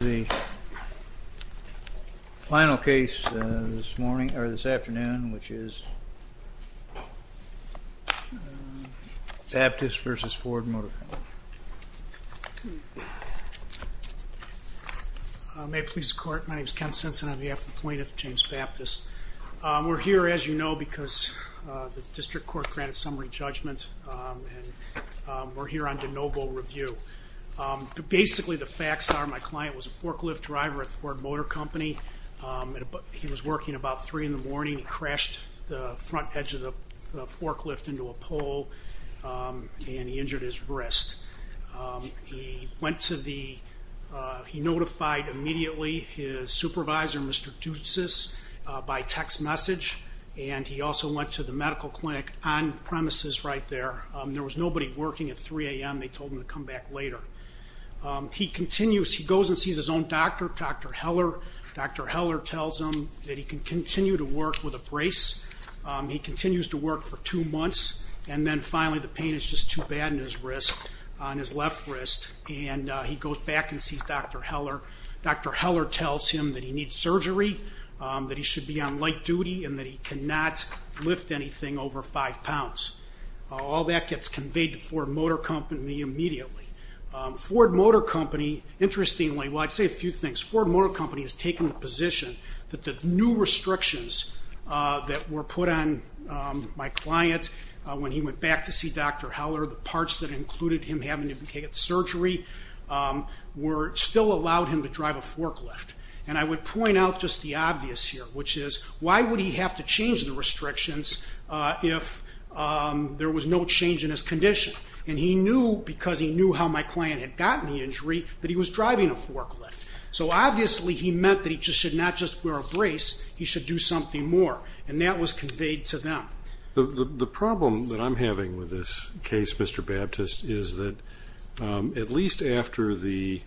The final case this morning, or this afternoon, which is Baptist v. Ford Motor Company. May it please the court. My name is Ken Sensen. I'm the affluent plaintiff, James Baptist. We're here, as you know, because the district court granted summary judgment, and we're here on de novo review. Basically, the facts are my client was a forklift driver at Ford Motor Company. He was working about 3 in the morning. He crashed the front edge of the forklift into a pole, and he injured his wrist. He notified immediately his supervisor, Mr. Ducis, by text message, and he also went to the medical clinic on premises right there. There was nobody working at 3 a.m. They told him to come back later. He continues, he goes and sees his own doctor, Dr. Heller. Dr. Heller tells him that he can continue to work with a brace. He continues to work for two months, and then finally the pain is just too bad in his wrist, on his left wrist, and he goes back and sees Dr. Heller. Dr. Heller tells him that he needs surgery, that he should be on light duty, and that he cannot lift anything over 5 pounds. All that gets conveyed to Ford Motor Company immediately. Ford Motor Company, interestingly, well, I'd say a few things. Ford Motor Company has taken the position that the new restrictions that were put on my client when he went back to see Dr. Heller, the parts that included him having to get surgery, still allowed him to drive a forklift. And I would point out just the obvious here, which is, why would he have to change the restrictions if there was no change in his condition? And he knew, because he knew how my client had gotten the injury, that he was driving a forklift. So obviously he meant that he should not just wear a brace, he should do something more. And that was conveyed to them. The problem that I'm having with this case, Mr. Baptist, is that at least after the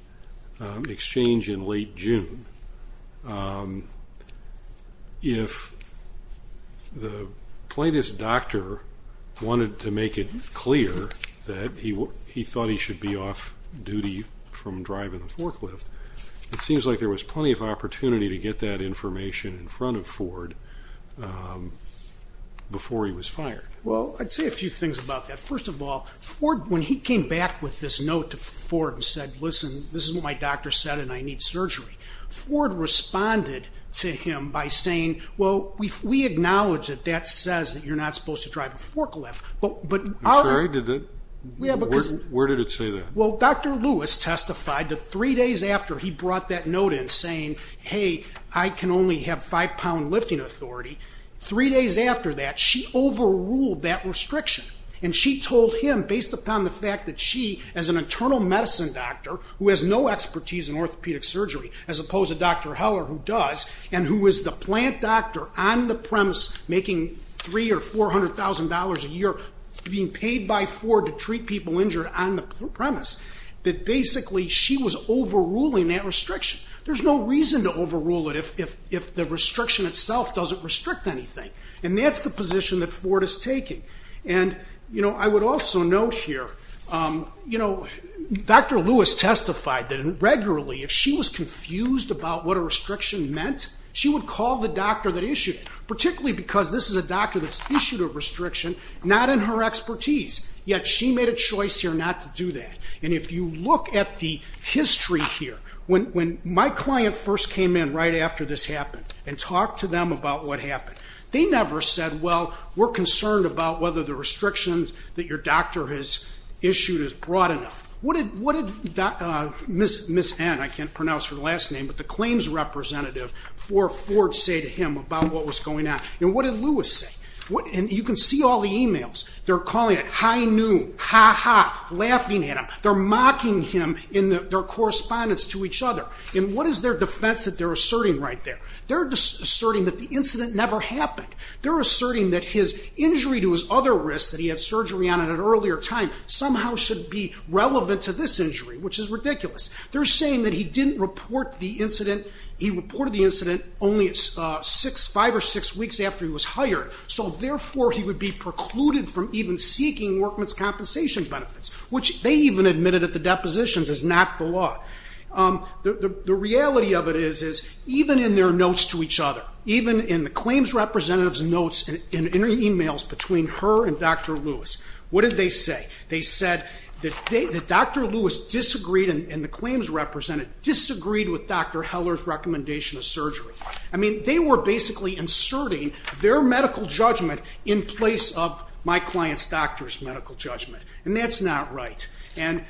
exchange in late June, if the plaintiff's doctor wanted to make it clear that he thought he should be off duty from driving a forklift, it seems like there was plenty of opportunity to get that information in front of Ford before he was fired. Well, I'd say a few things about that. First of all, when he came back with this note to Ford and said, listen, this is what my doctor said and I need surgery, Ford responded to him by saying, well, we acknowledge that that says that you're not supposed to drive a forklift. I'm sorry, where did it say that? Well, Dr. Lewis testified that three days after he brought that note in saying, hey, I can only have five-pound lifting authority, three days after that she overruled that restriction. And she told him, based upon the fact that she, as an internal medicine doctor who has no expertise in orthopedic surgery, as opposed to Dr. Heller who does, and who is the plant doctor on the premise making $300,000 or $400,000 a year being paid by Ford to treat people injured on the premise, that basically she was overruling that restriction. There's no reason to overrule it if the restriction itself doesn't restrict anything. And that's the position that Ford is taking. And, you know, I would also note here, you know, Dr. Lewis testified that regularly, if she was confused about what a restriction meant, she would call the doctor that issued it, not in her expertise, yet she made a choice here not to do that. And if you look at the history here, when my client first came in right after this happened and talked to them about what happened, they never said, well, we're concerned about whether the restrictions that your doctor has issued is broad enough. What did Ms. N, I can't pronounce her last name, but the claims representative for Ford say to him about what was going on? And what did Lewis say? And you can see all the e-mails. They're calling it high noon, ha-ha, laughing at him. They're mocking him in their correspondence to each other. And what is their defense that they're asserting right there? They're asserting that the incident never happened. They're asserting that his injury to his other wrist that he had surgery on at an earlier time somehow should be relevant to this injury, which is ridiculous. They're saying that he didn't report the incident. Only five or six weeks after he was hired. So, therefore, he would be precluded from even seeking workman's compensation benefits, which they even admitted at the depositions is not the law. The reality of it is, is even in their notes to each other, even in the claims representative's notes and in e-mails between her and Dr. Lewis, what did they say? They said that Dr. Lewis disagreed, and the claims representative disagreed, with Dr. Heller's recommendation of surgery. I mean, they were basically inserting their medical judgment in place of my client's doctor's medical judgment. And that's not right. And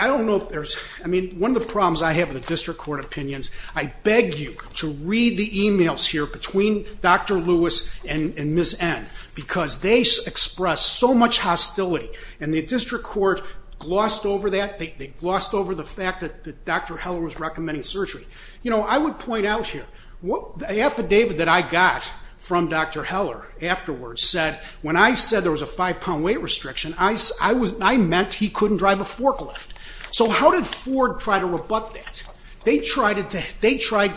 I don't know if there's, I mean, one of the problems I have in the district court opinions, I beg you to read the e-mails here between Dr. Lewis and Ms. N, because they expressed so much hostility, and the district court glossed over that. They glossed over the fact that Dr. Heller was recommending surgery. You know, I would point out here, the affidavit that I got from Dr. Heller afterwards said, when I said there was a five-pound weight restriction, I meant he couldn't drive a forklift. So how did Ford try to rebut that? They tried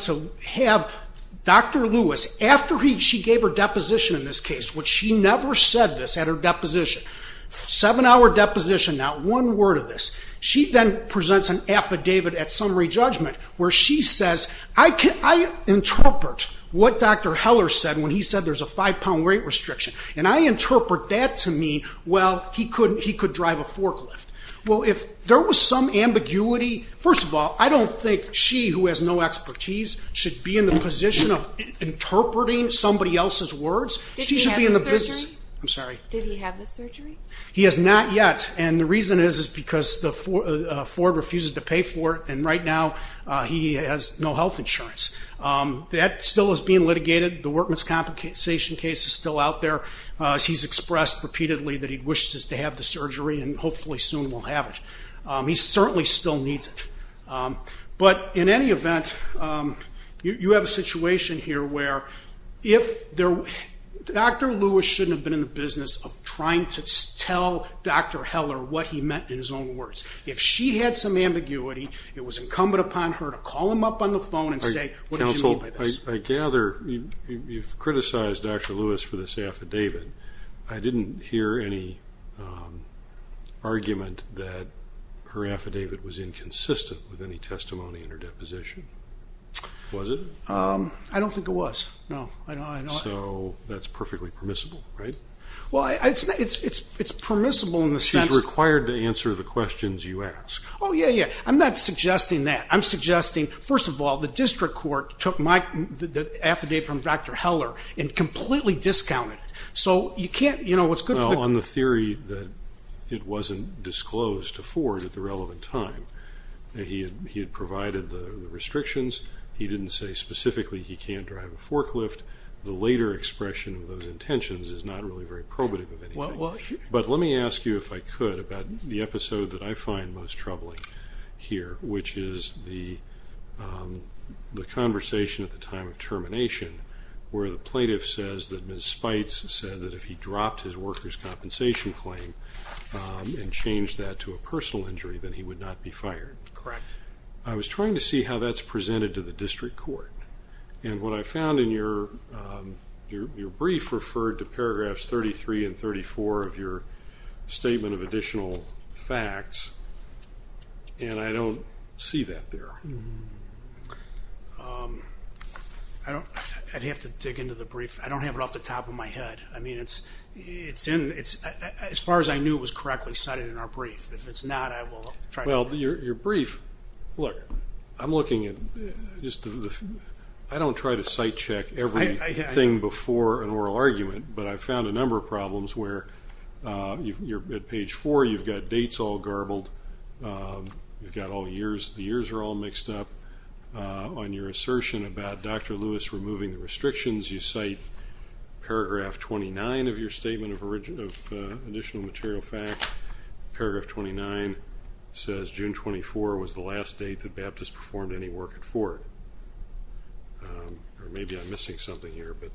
to have Dr. Lewis, after she gave her deposition in this case, which she never said this at her deposition, seven-hour deposition, not one word of this, she then presents an affidavit at summary judgment where she says, I interpret what Dr. Heller said when he said there's a five-pound weight restriction, and I interpret that to mean, well, he could drive a forklift. Well, if there was some ambiguity, first of all, I don't think she who has no expertise should be in the position of interpreting somebody else's words. Did he have the surgery? I'm sorry. Did he have the surgery? He has not yet, and the reason is because Ford refuses to pay for it, and right now he has no health insurance. That still is being litigated. The workman's compensation case is still out there. He's expressed repeatedly that he wishes to have the surgery, and hopefully soon we'll have it. He certainly still needs it. But in any event, you have a situation here where Dr. Lewis shouldn't have been in the business of trying to tell Dr. Heller what he meant in his own words. If she had some ambiguity, it was incumbent upon her to call him up on the phone and say, what did you mean by this? I gather you've criticized Dr. Lewis for this affidavit. I didn't hear any argument that her affidavit was inconsistent with any testimony in her deposition. Was it? I don't think it was, no. So that's perfectly permissible, right? Well, it's permissible in the sense that he's required to answer the questions you ask. Oh, yeah, yeah. I'm not suggesting that. I'm suggesting, first of all, the district court took my affidavit from Dr. Heller and completely discounted it. So you can't, you know, it's good for the- Well, on the theory that it wasn't disclosed to Ford at the relevant time, that he had provided the restrictions, he didn't say specifically he can't drive a forklift, the later expression of those intentions is not really very probative of anything. But let me ask you, if I could, about the episode that I find most troubling here, which is the conversation at the time of termination, where the plaintiff says that Ms. Spites said that if he dropped his worker's compensation claim and changed that to a personal injury, then he would not be fired. Correct. I was trying to see how that's presented to the district court, and what I found in your brief referred to paragraphs 33 and 34 of your statement of additional facts, and I don't see that there. I'd have to dig into the brief. I don't have it off the top of my head. I mean, as far as I knew, it was correctly cited in our brief. If it's not, I will try to- Well, your brief, look, I'm looking at just the-I don't try to site check everything before an oral argument, but I found a number of problems where you're at page four, you've got dates all garbled, you've got all years, the years are all mixed up on your assertion about Dr. Lewis removing the restrictions. You cite paragraph 29 of your statement of additional material facts. Paragraph 29 says June 24 was the last date that Baptist performed any work at Ford. Maybe I'm missing something here, but-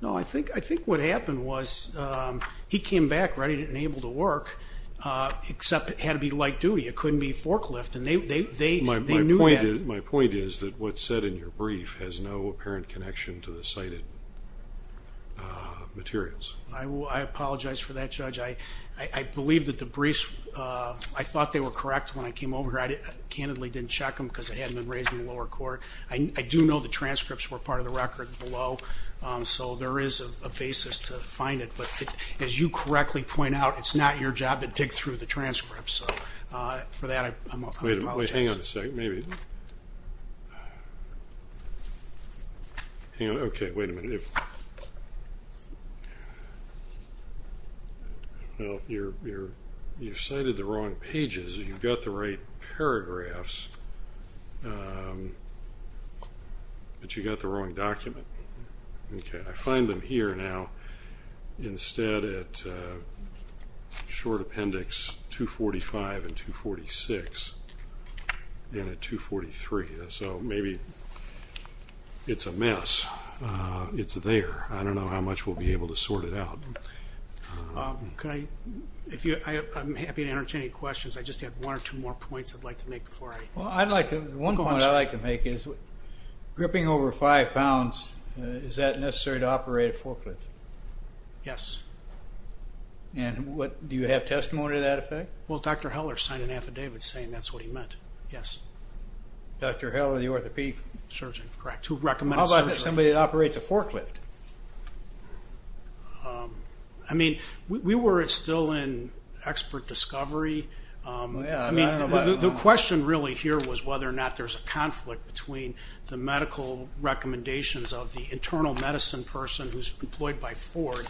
No, I think what happened was he came back ready and able to work, except it had to be light duty. It couldn't be forklift, and they knew that- My point is that what's said in your brief has no apparent connection to the cited materials. I apologize for that, Judge. I believe that the briefs, I thought they were correct when I came over here. I candidly didn't check them because they hadn't been raised in the lower court. I do know the transcripts were part of the record below, so there is a basis to find it, but as you correctly point out, it's not your job to dig through the transcripts. So for that, I apologize. Wait a minute. Hang on a second. Maybe- Hang on. Okay, wait a minute. You cited the wrong pages. You got the right paragraphs, but you got the wrong document. Okay, I find them here now. Instead at short appendix 245 and 246 and at 243. So maybe it's a mess. It's there. I don't know how much we'll be able to sort it out. I'm happy to answer any questions. I just have one or two more points I'd like to make before I- Well, one point I'd like to make is gripping over five pounds, is that necessary to operate a forklift? Yes. And do you have testimony to that effect? Well, Dr. Heller signed an affidavit saying that's what he meant, yes. Dr. Heller, the orthopedic surgeon? Correct, who recommended surgery. How about somebody that operates a forklift? I mean, we were still in expert discovery. I mean, the question really here was whether or not there's a conflict between the medical recommendations of the internal medicine person who's employed by Ford.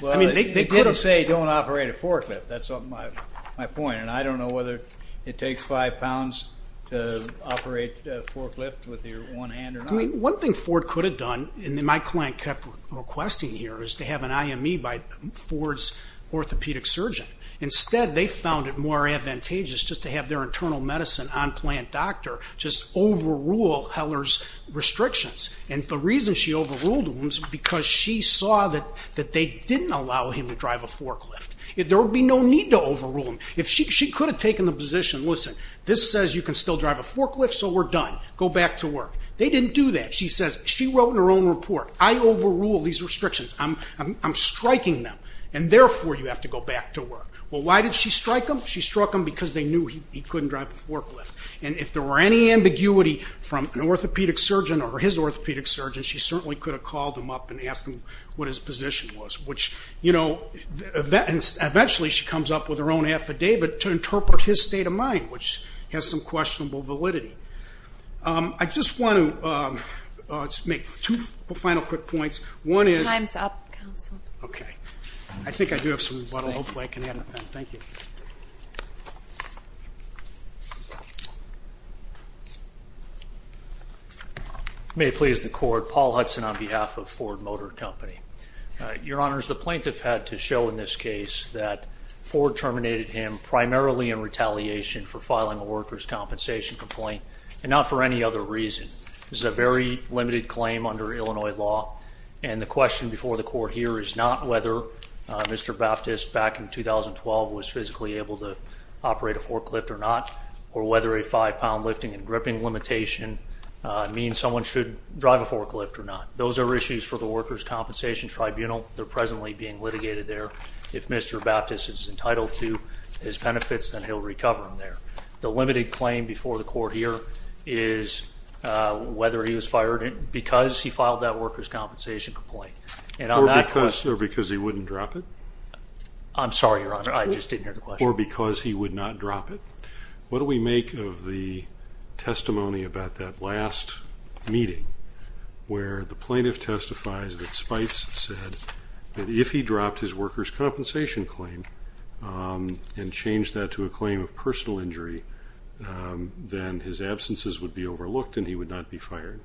Well, he did say don't operate a forklift. That's my point. And I don't know whether it takes five pounds to operate a forklift with your one hand or not. One thing Ford could have done, and my client kept requesting here, is to have an IME by Ford's orthopedic surgeon. Instead, they found it more advantageous just to have their internal medicine on-plant doctor just overrule Heller's restrictions. And the reason she overruled them was because she saw that they didn't allow him to drive a forklift. There would be no need to overrule them. She could have taken the position, listen, this says you can still drive a forklift, so we're done. Go back to work. They didn't do that. She wrote in her own report, I overrule these restrictions. I'm striking them, and therefore you have to go back to work. Well, why did she strike them? She struck them because they knew he couldn't drive a forklift. And if there were any ambiguity from an orthopedic surgeon or his orthopedic surgeon, she certainly could have called him up and asked him what his position was. Which, you know, eventually she comes up with her own affidavit to interpret his state of mind, which has some questionable validity. I just want to make two final quick points. Time's up, counsel. Okay. I think I do have some water. Hopefully I can have it. Thank you. May it please the Court, Paul Hudson on behalf of Ford Motor Company. Your Honors, the plaintiff had to show in this case that Ford terminated him primarily in retaliation for filing a workers' compensation complaint and not for any other reason. This is a very limited claim under Illinois law, and the question before the Court here is not whether Mr. Baptist, back in 2012, was physically able to operate a forklift or not or whether a five-pound lifting and gripping limitation means someone should drive a forklift or not. Those are issues for the Workers' Compensation Tribunal. They're presently being litigated there. If Mr. Baptist is entitled to his benefits, then he'll recover them there. The limited claim before the Court here is whether he was fired because he filed that workers' compensation complaint. Or because he wouldn't drop it. I'm sorry, Your Honor. I just didn't hear the question. Or because he would not drop it. What do we make of the testimony about that last meeting where the plaintiff testifies that Spice said that if he dropped his workers' compensation claim and changed that to a claim of personal injury, then his absences would be overlooked and he would not be fired?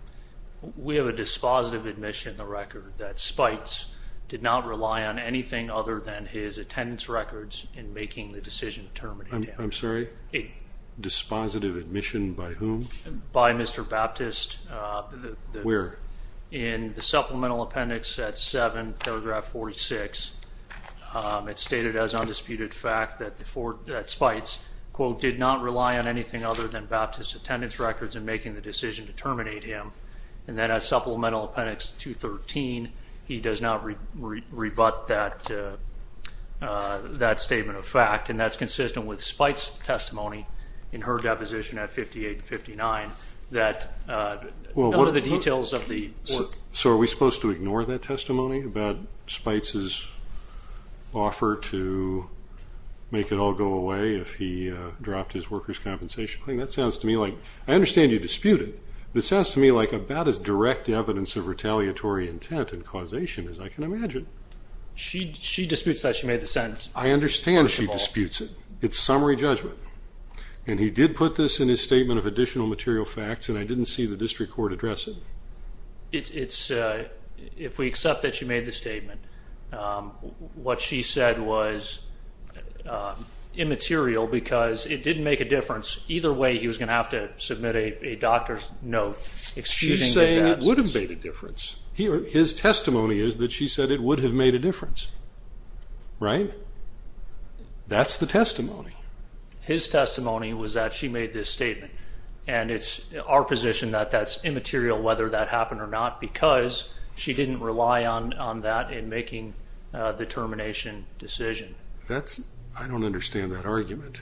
We have a dispositive admission in the record that Spice did not rely on anything other than his attendance records in making the decision of terminating him. I'm sorry? A dispositive admission by whom? By Mr. Baptist. Where? In the supplemental appendix at 7, paragraph 46. It's stated as undisputed fact that Spice, quote, did not rely on anything other than Baptist's attendance records in making the decision to terminate him. And then as supplemental appendix 213, he does not rebut that statement of fact. And that's consistent with Spice's testimony in her deposition at 58-59. What are the details of the report? So are we supposed to ignore that testimony about Spice's offer to make it all go away if he dropped his workers' compensation claim? That sounds to me like I understand you dispute it, but it sounds to me like about as direct evidence of retaliatory intent and causation as I can imagine. She disputes that she made the sentence. I understand she disputes it. It's summary judgment. And he did put this in his statement of additional material facts, and I didn't see the district court address it. If we accept that she made the statement, what she said was immaterial because it didn't make a difference. Either way, he was going to have to submit a doctor's note. She's saying it would have made a difference. His testimony is that she said it would have made a difference, right? That's the testimony. His testimony was that she made this statement, and it's our position that that's immaterial whether that happened or not because she didn't rely on that in making the termination decision. I don't understand that argument.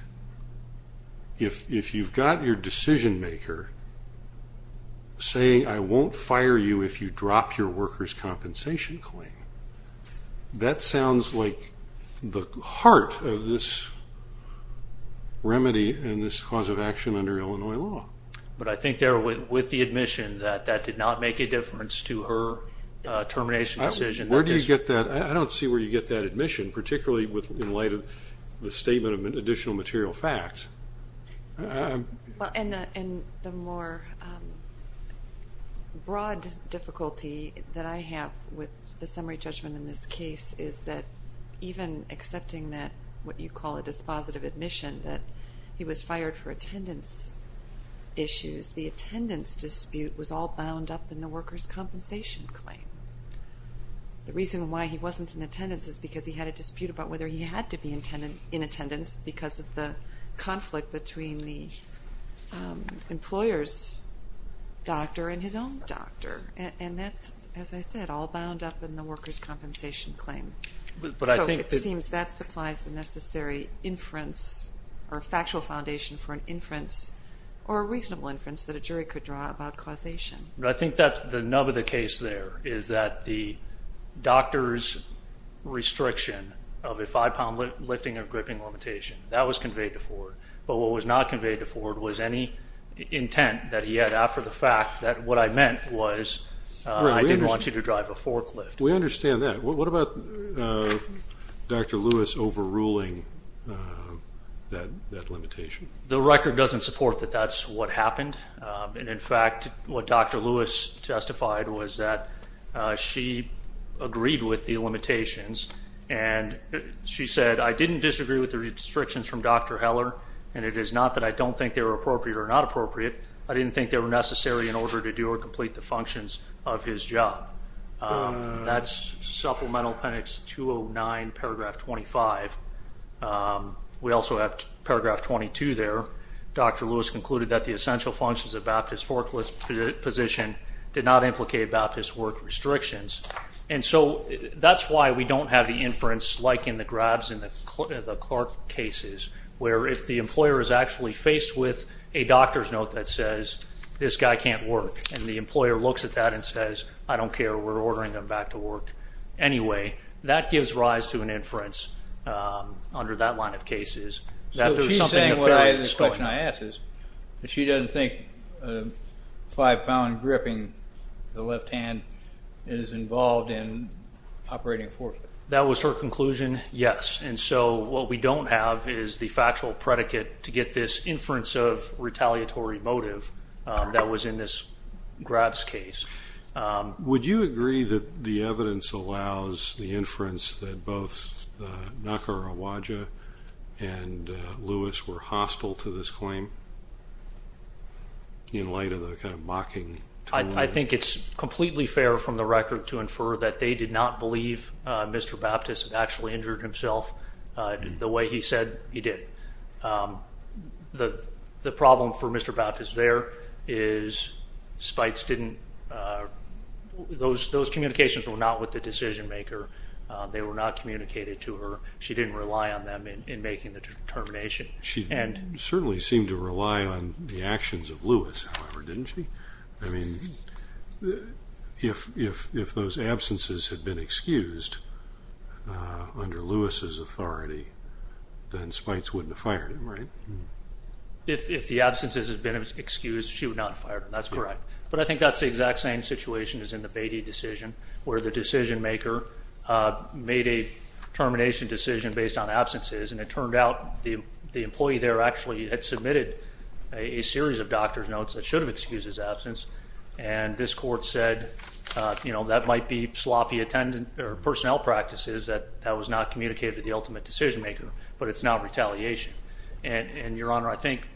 If you've got your decision-maker saying, I won't fire you if you drop your workers' compensation claim, that sounds like the heart of this remedy and this cause of action under Illinois law. But I think there with the admission that that did not make a difference to her termination decision. Where do you get that? I don't see where you get that admission, particularly in light of the statement of additional material facts. The more broad difficulty that I have with the summary judgment in this case is that even accepting what you call a dispositive admission, that he was fired for attendance issues, the attendance dispute was all bound up in the workers' compensation claim. The reason why he wasn't in attendance is because he had a dispute about whether he had to be in attendance because of the conflict between the employer's doctor and his own doctor. And that's, as I said, all bound up in the workers' compensation claim. So it seems that supplies the necessary inference or factual foundation for an inference or a reasonable inference that a jury could draw about causation. I think that the nub of the case there is that the doctor's restriction of a five-pound lifting or gripping limitation, that was conveyed to Ford. But what was not conveyed to Ford was any intent that he had after the fact that what I meant was I didn't want you to drive a forklift. We understand that. What about Dr. Lewis overruling that limitation? The record doesn't support that that's what happened. And, in fact, what Dr. Lewis testified was that she agreed with the limitations and she said, I didn't disagree with the restrictions from Dr. Heller, and it is not that I don't think they were appropriate or not appropriate. I didn't think they were necessary in order to do or complete the functions of his job. That's Supplemental Appendix 209, Paragraph 25. We also have Paragraph 22 there. Dr. Lewis concluded that the essential functions of Baptist forklift position did not implicate Baptist work restrictions. And so that's why we don't have the inference like in the grabs in the Clark cases where if the employer is actually faced with a doctor's note that says, this guy can't work, and the employer looks at that and says, I don't care, we're ordering him back to work anyway, that gives rise to an inference under that line of cases. So she's saying what I had in the question I asked is that she doesn't think five-pound gripping the left hand is involved in operating a forklift. That was her conclusion? Yes. And so what we don't have is the factual predicate to get this inference of retaliatory motive that was in this grabs case. Do you sense that both Nukur Awadja and Lewis were hostile to this claim? In light of the kind of mocking tone? I think it's completely fair from the record to infer that they did not believe Mr. Baptist actually injured himself the way he said he did. The problem for Mr. Baptist there is those communications were not with the decision maker. They were not communicated to her. She didn't rely on them in making the determination. She certainly seemed to rely on the actions of Lewis, however, didn't she? I mean, if those absences had been excused under Lewis's authority, then Spites wouldn't have fired him, right? If the absences had been excused, she would not have fired him. That's correct. But I think that's the exact same situation as in the Beatty decision, where the decision maker made a termination decision based on absences, and it turned out the employee there actually had submitted a series of doctor's notes that should have excused his absence, and this court said that might be sloppy personnel practices, that that was not communicated to the ultimate decision maker, but it's not retaliation. And, Your Honor, I think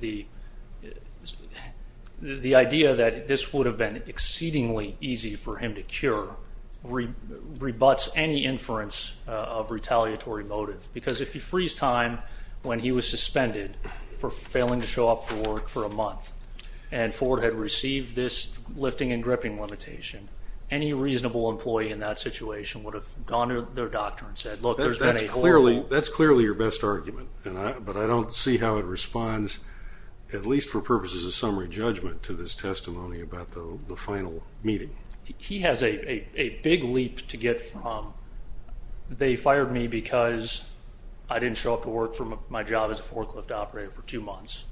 the idea that this would have been exceedingly easy for him to cure rebuts any inference of retaliatory motive, because if he frees time when he was suspended for failing to show up for work for a month and Ford had received this lifting and gripping limitation, any reasonable employee in that situation would have gone to their doctor and said, That's clearly your best argument, but I don't see how it responds, at least for purposes of summary judgment, to this testimony about the final meeting. He has a big leap to get from, they fired me because I didn't show up to work for my job as a forklift operator for two months,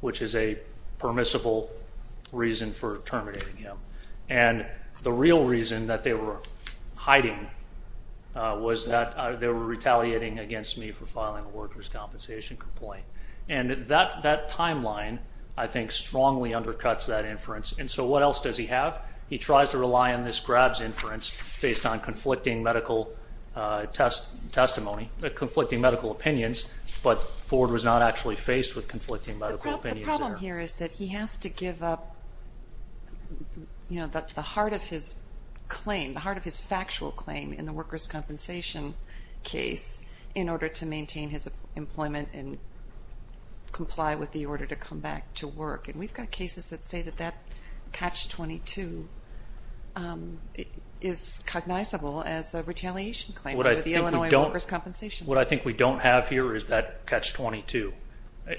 which is a permissible reason for terminating him. And the real reason that they were hiding was that they were retaliating against me for filing a workers' compensation complaint. And that timeline, I think, strongly undercuts that inference. And so what else does he have? He tries to rely on this grabs inference based on conflicting medical testimony, conflicting medical opinions, but Ford was not actually faced with conflicting medical opinions there. The problem here is that he has to give up the heart of his claim, the heart of his factual claim in the workers' compensation case in order to maintain his employment and comply with the order to come back to work. And we've got cases that say that that catch-22 is cognizable as a retaliation claim under the Illinois workers' compensation law. What I think we don't have here is that catch-22.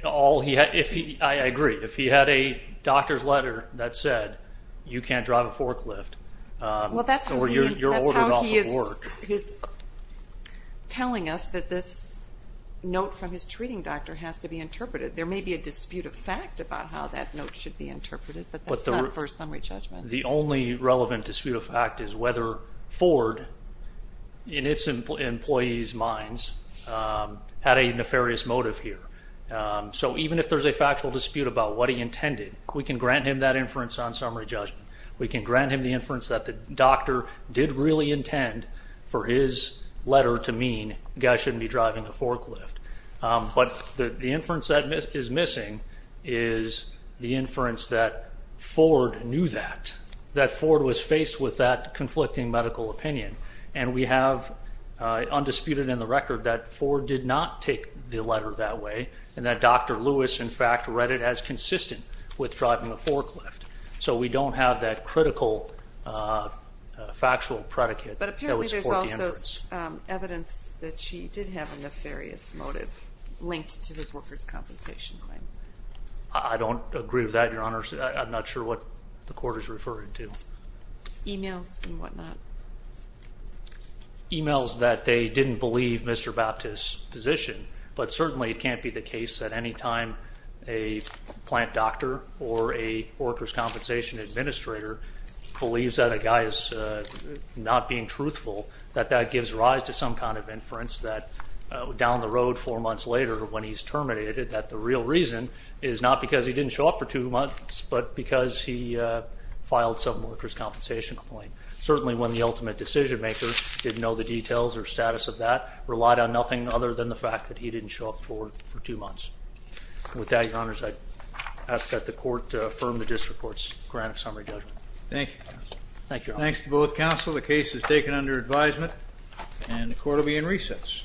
I agree. If he had a doctor's letter that said, you can't drive a forklift or you're ordered off of work. Well, that's how he is telling us that this note from his treating doctor has to be interpreted. There may be a dispute of fact about how that note should be interpreted, but that's not first summary judgment. The only relevant dispute of fact is whether Ford, in its employees' minds, had a nefarious motive here. So even if there's a factual dispute about what he intended, we can grant him that inference on summary judgment. We can grant him the inference that the doctor did really intend for his letter to mean, the guy shouldn't be driving a forklift. But the inference that is missing is the inference that Ford knew that, that Ford was faced with that conflicting medical opinion. And we have, undisputed in the record, that Ford did not take the letter that way and that Dr. Lewis, in fact, read it as consistent with driving a forklift. So we don't have that critical factual predicate that would support the inference. But apparently there's also evidence that she did have a nefarious motive linked to his workers' compensation claim. I don't agree with that, Your Honor. I'm not sure what the court is referring to. Emails and whatnot. Emails that they didn't believe Mr. Baptist's position, but certainly it can't be the case that any time a plant doctor or a workers' compensation administrator believes that a guy is not being truthful, that that gives rise to some kind of inference that down the road, four months later when he's terminated, that the real reason is not because he didn't show up for two months, but because he filed some workers' compensation claim. Certainly when the ultimate decision maker didn't know the details or status of that, relied on nothing other than the fact that he didn't show up for two months. With that, Your Honor, I ask that the court affirm the district court's grant of summary judgment. Thank you. Thank you, Your Honor. Thanks to both counsel. The case is taken under advisement, and the court will be in recess.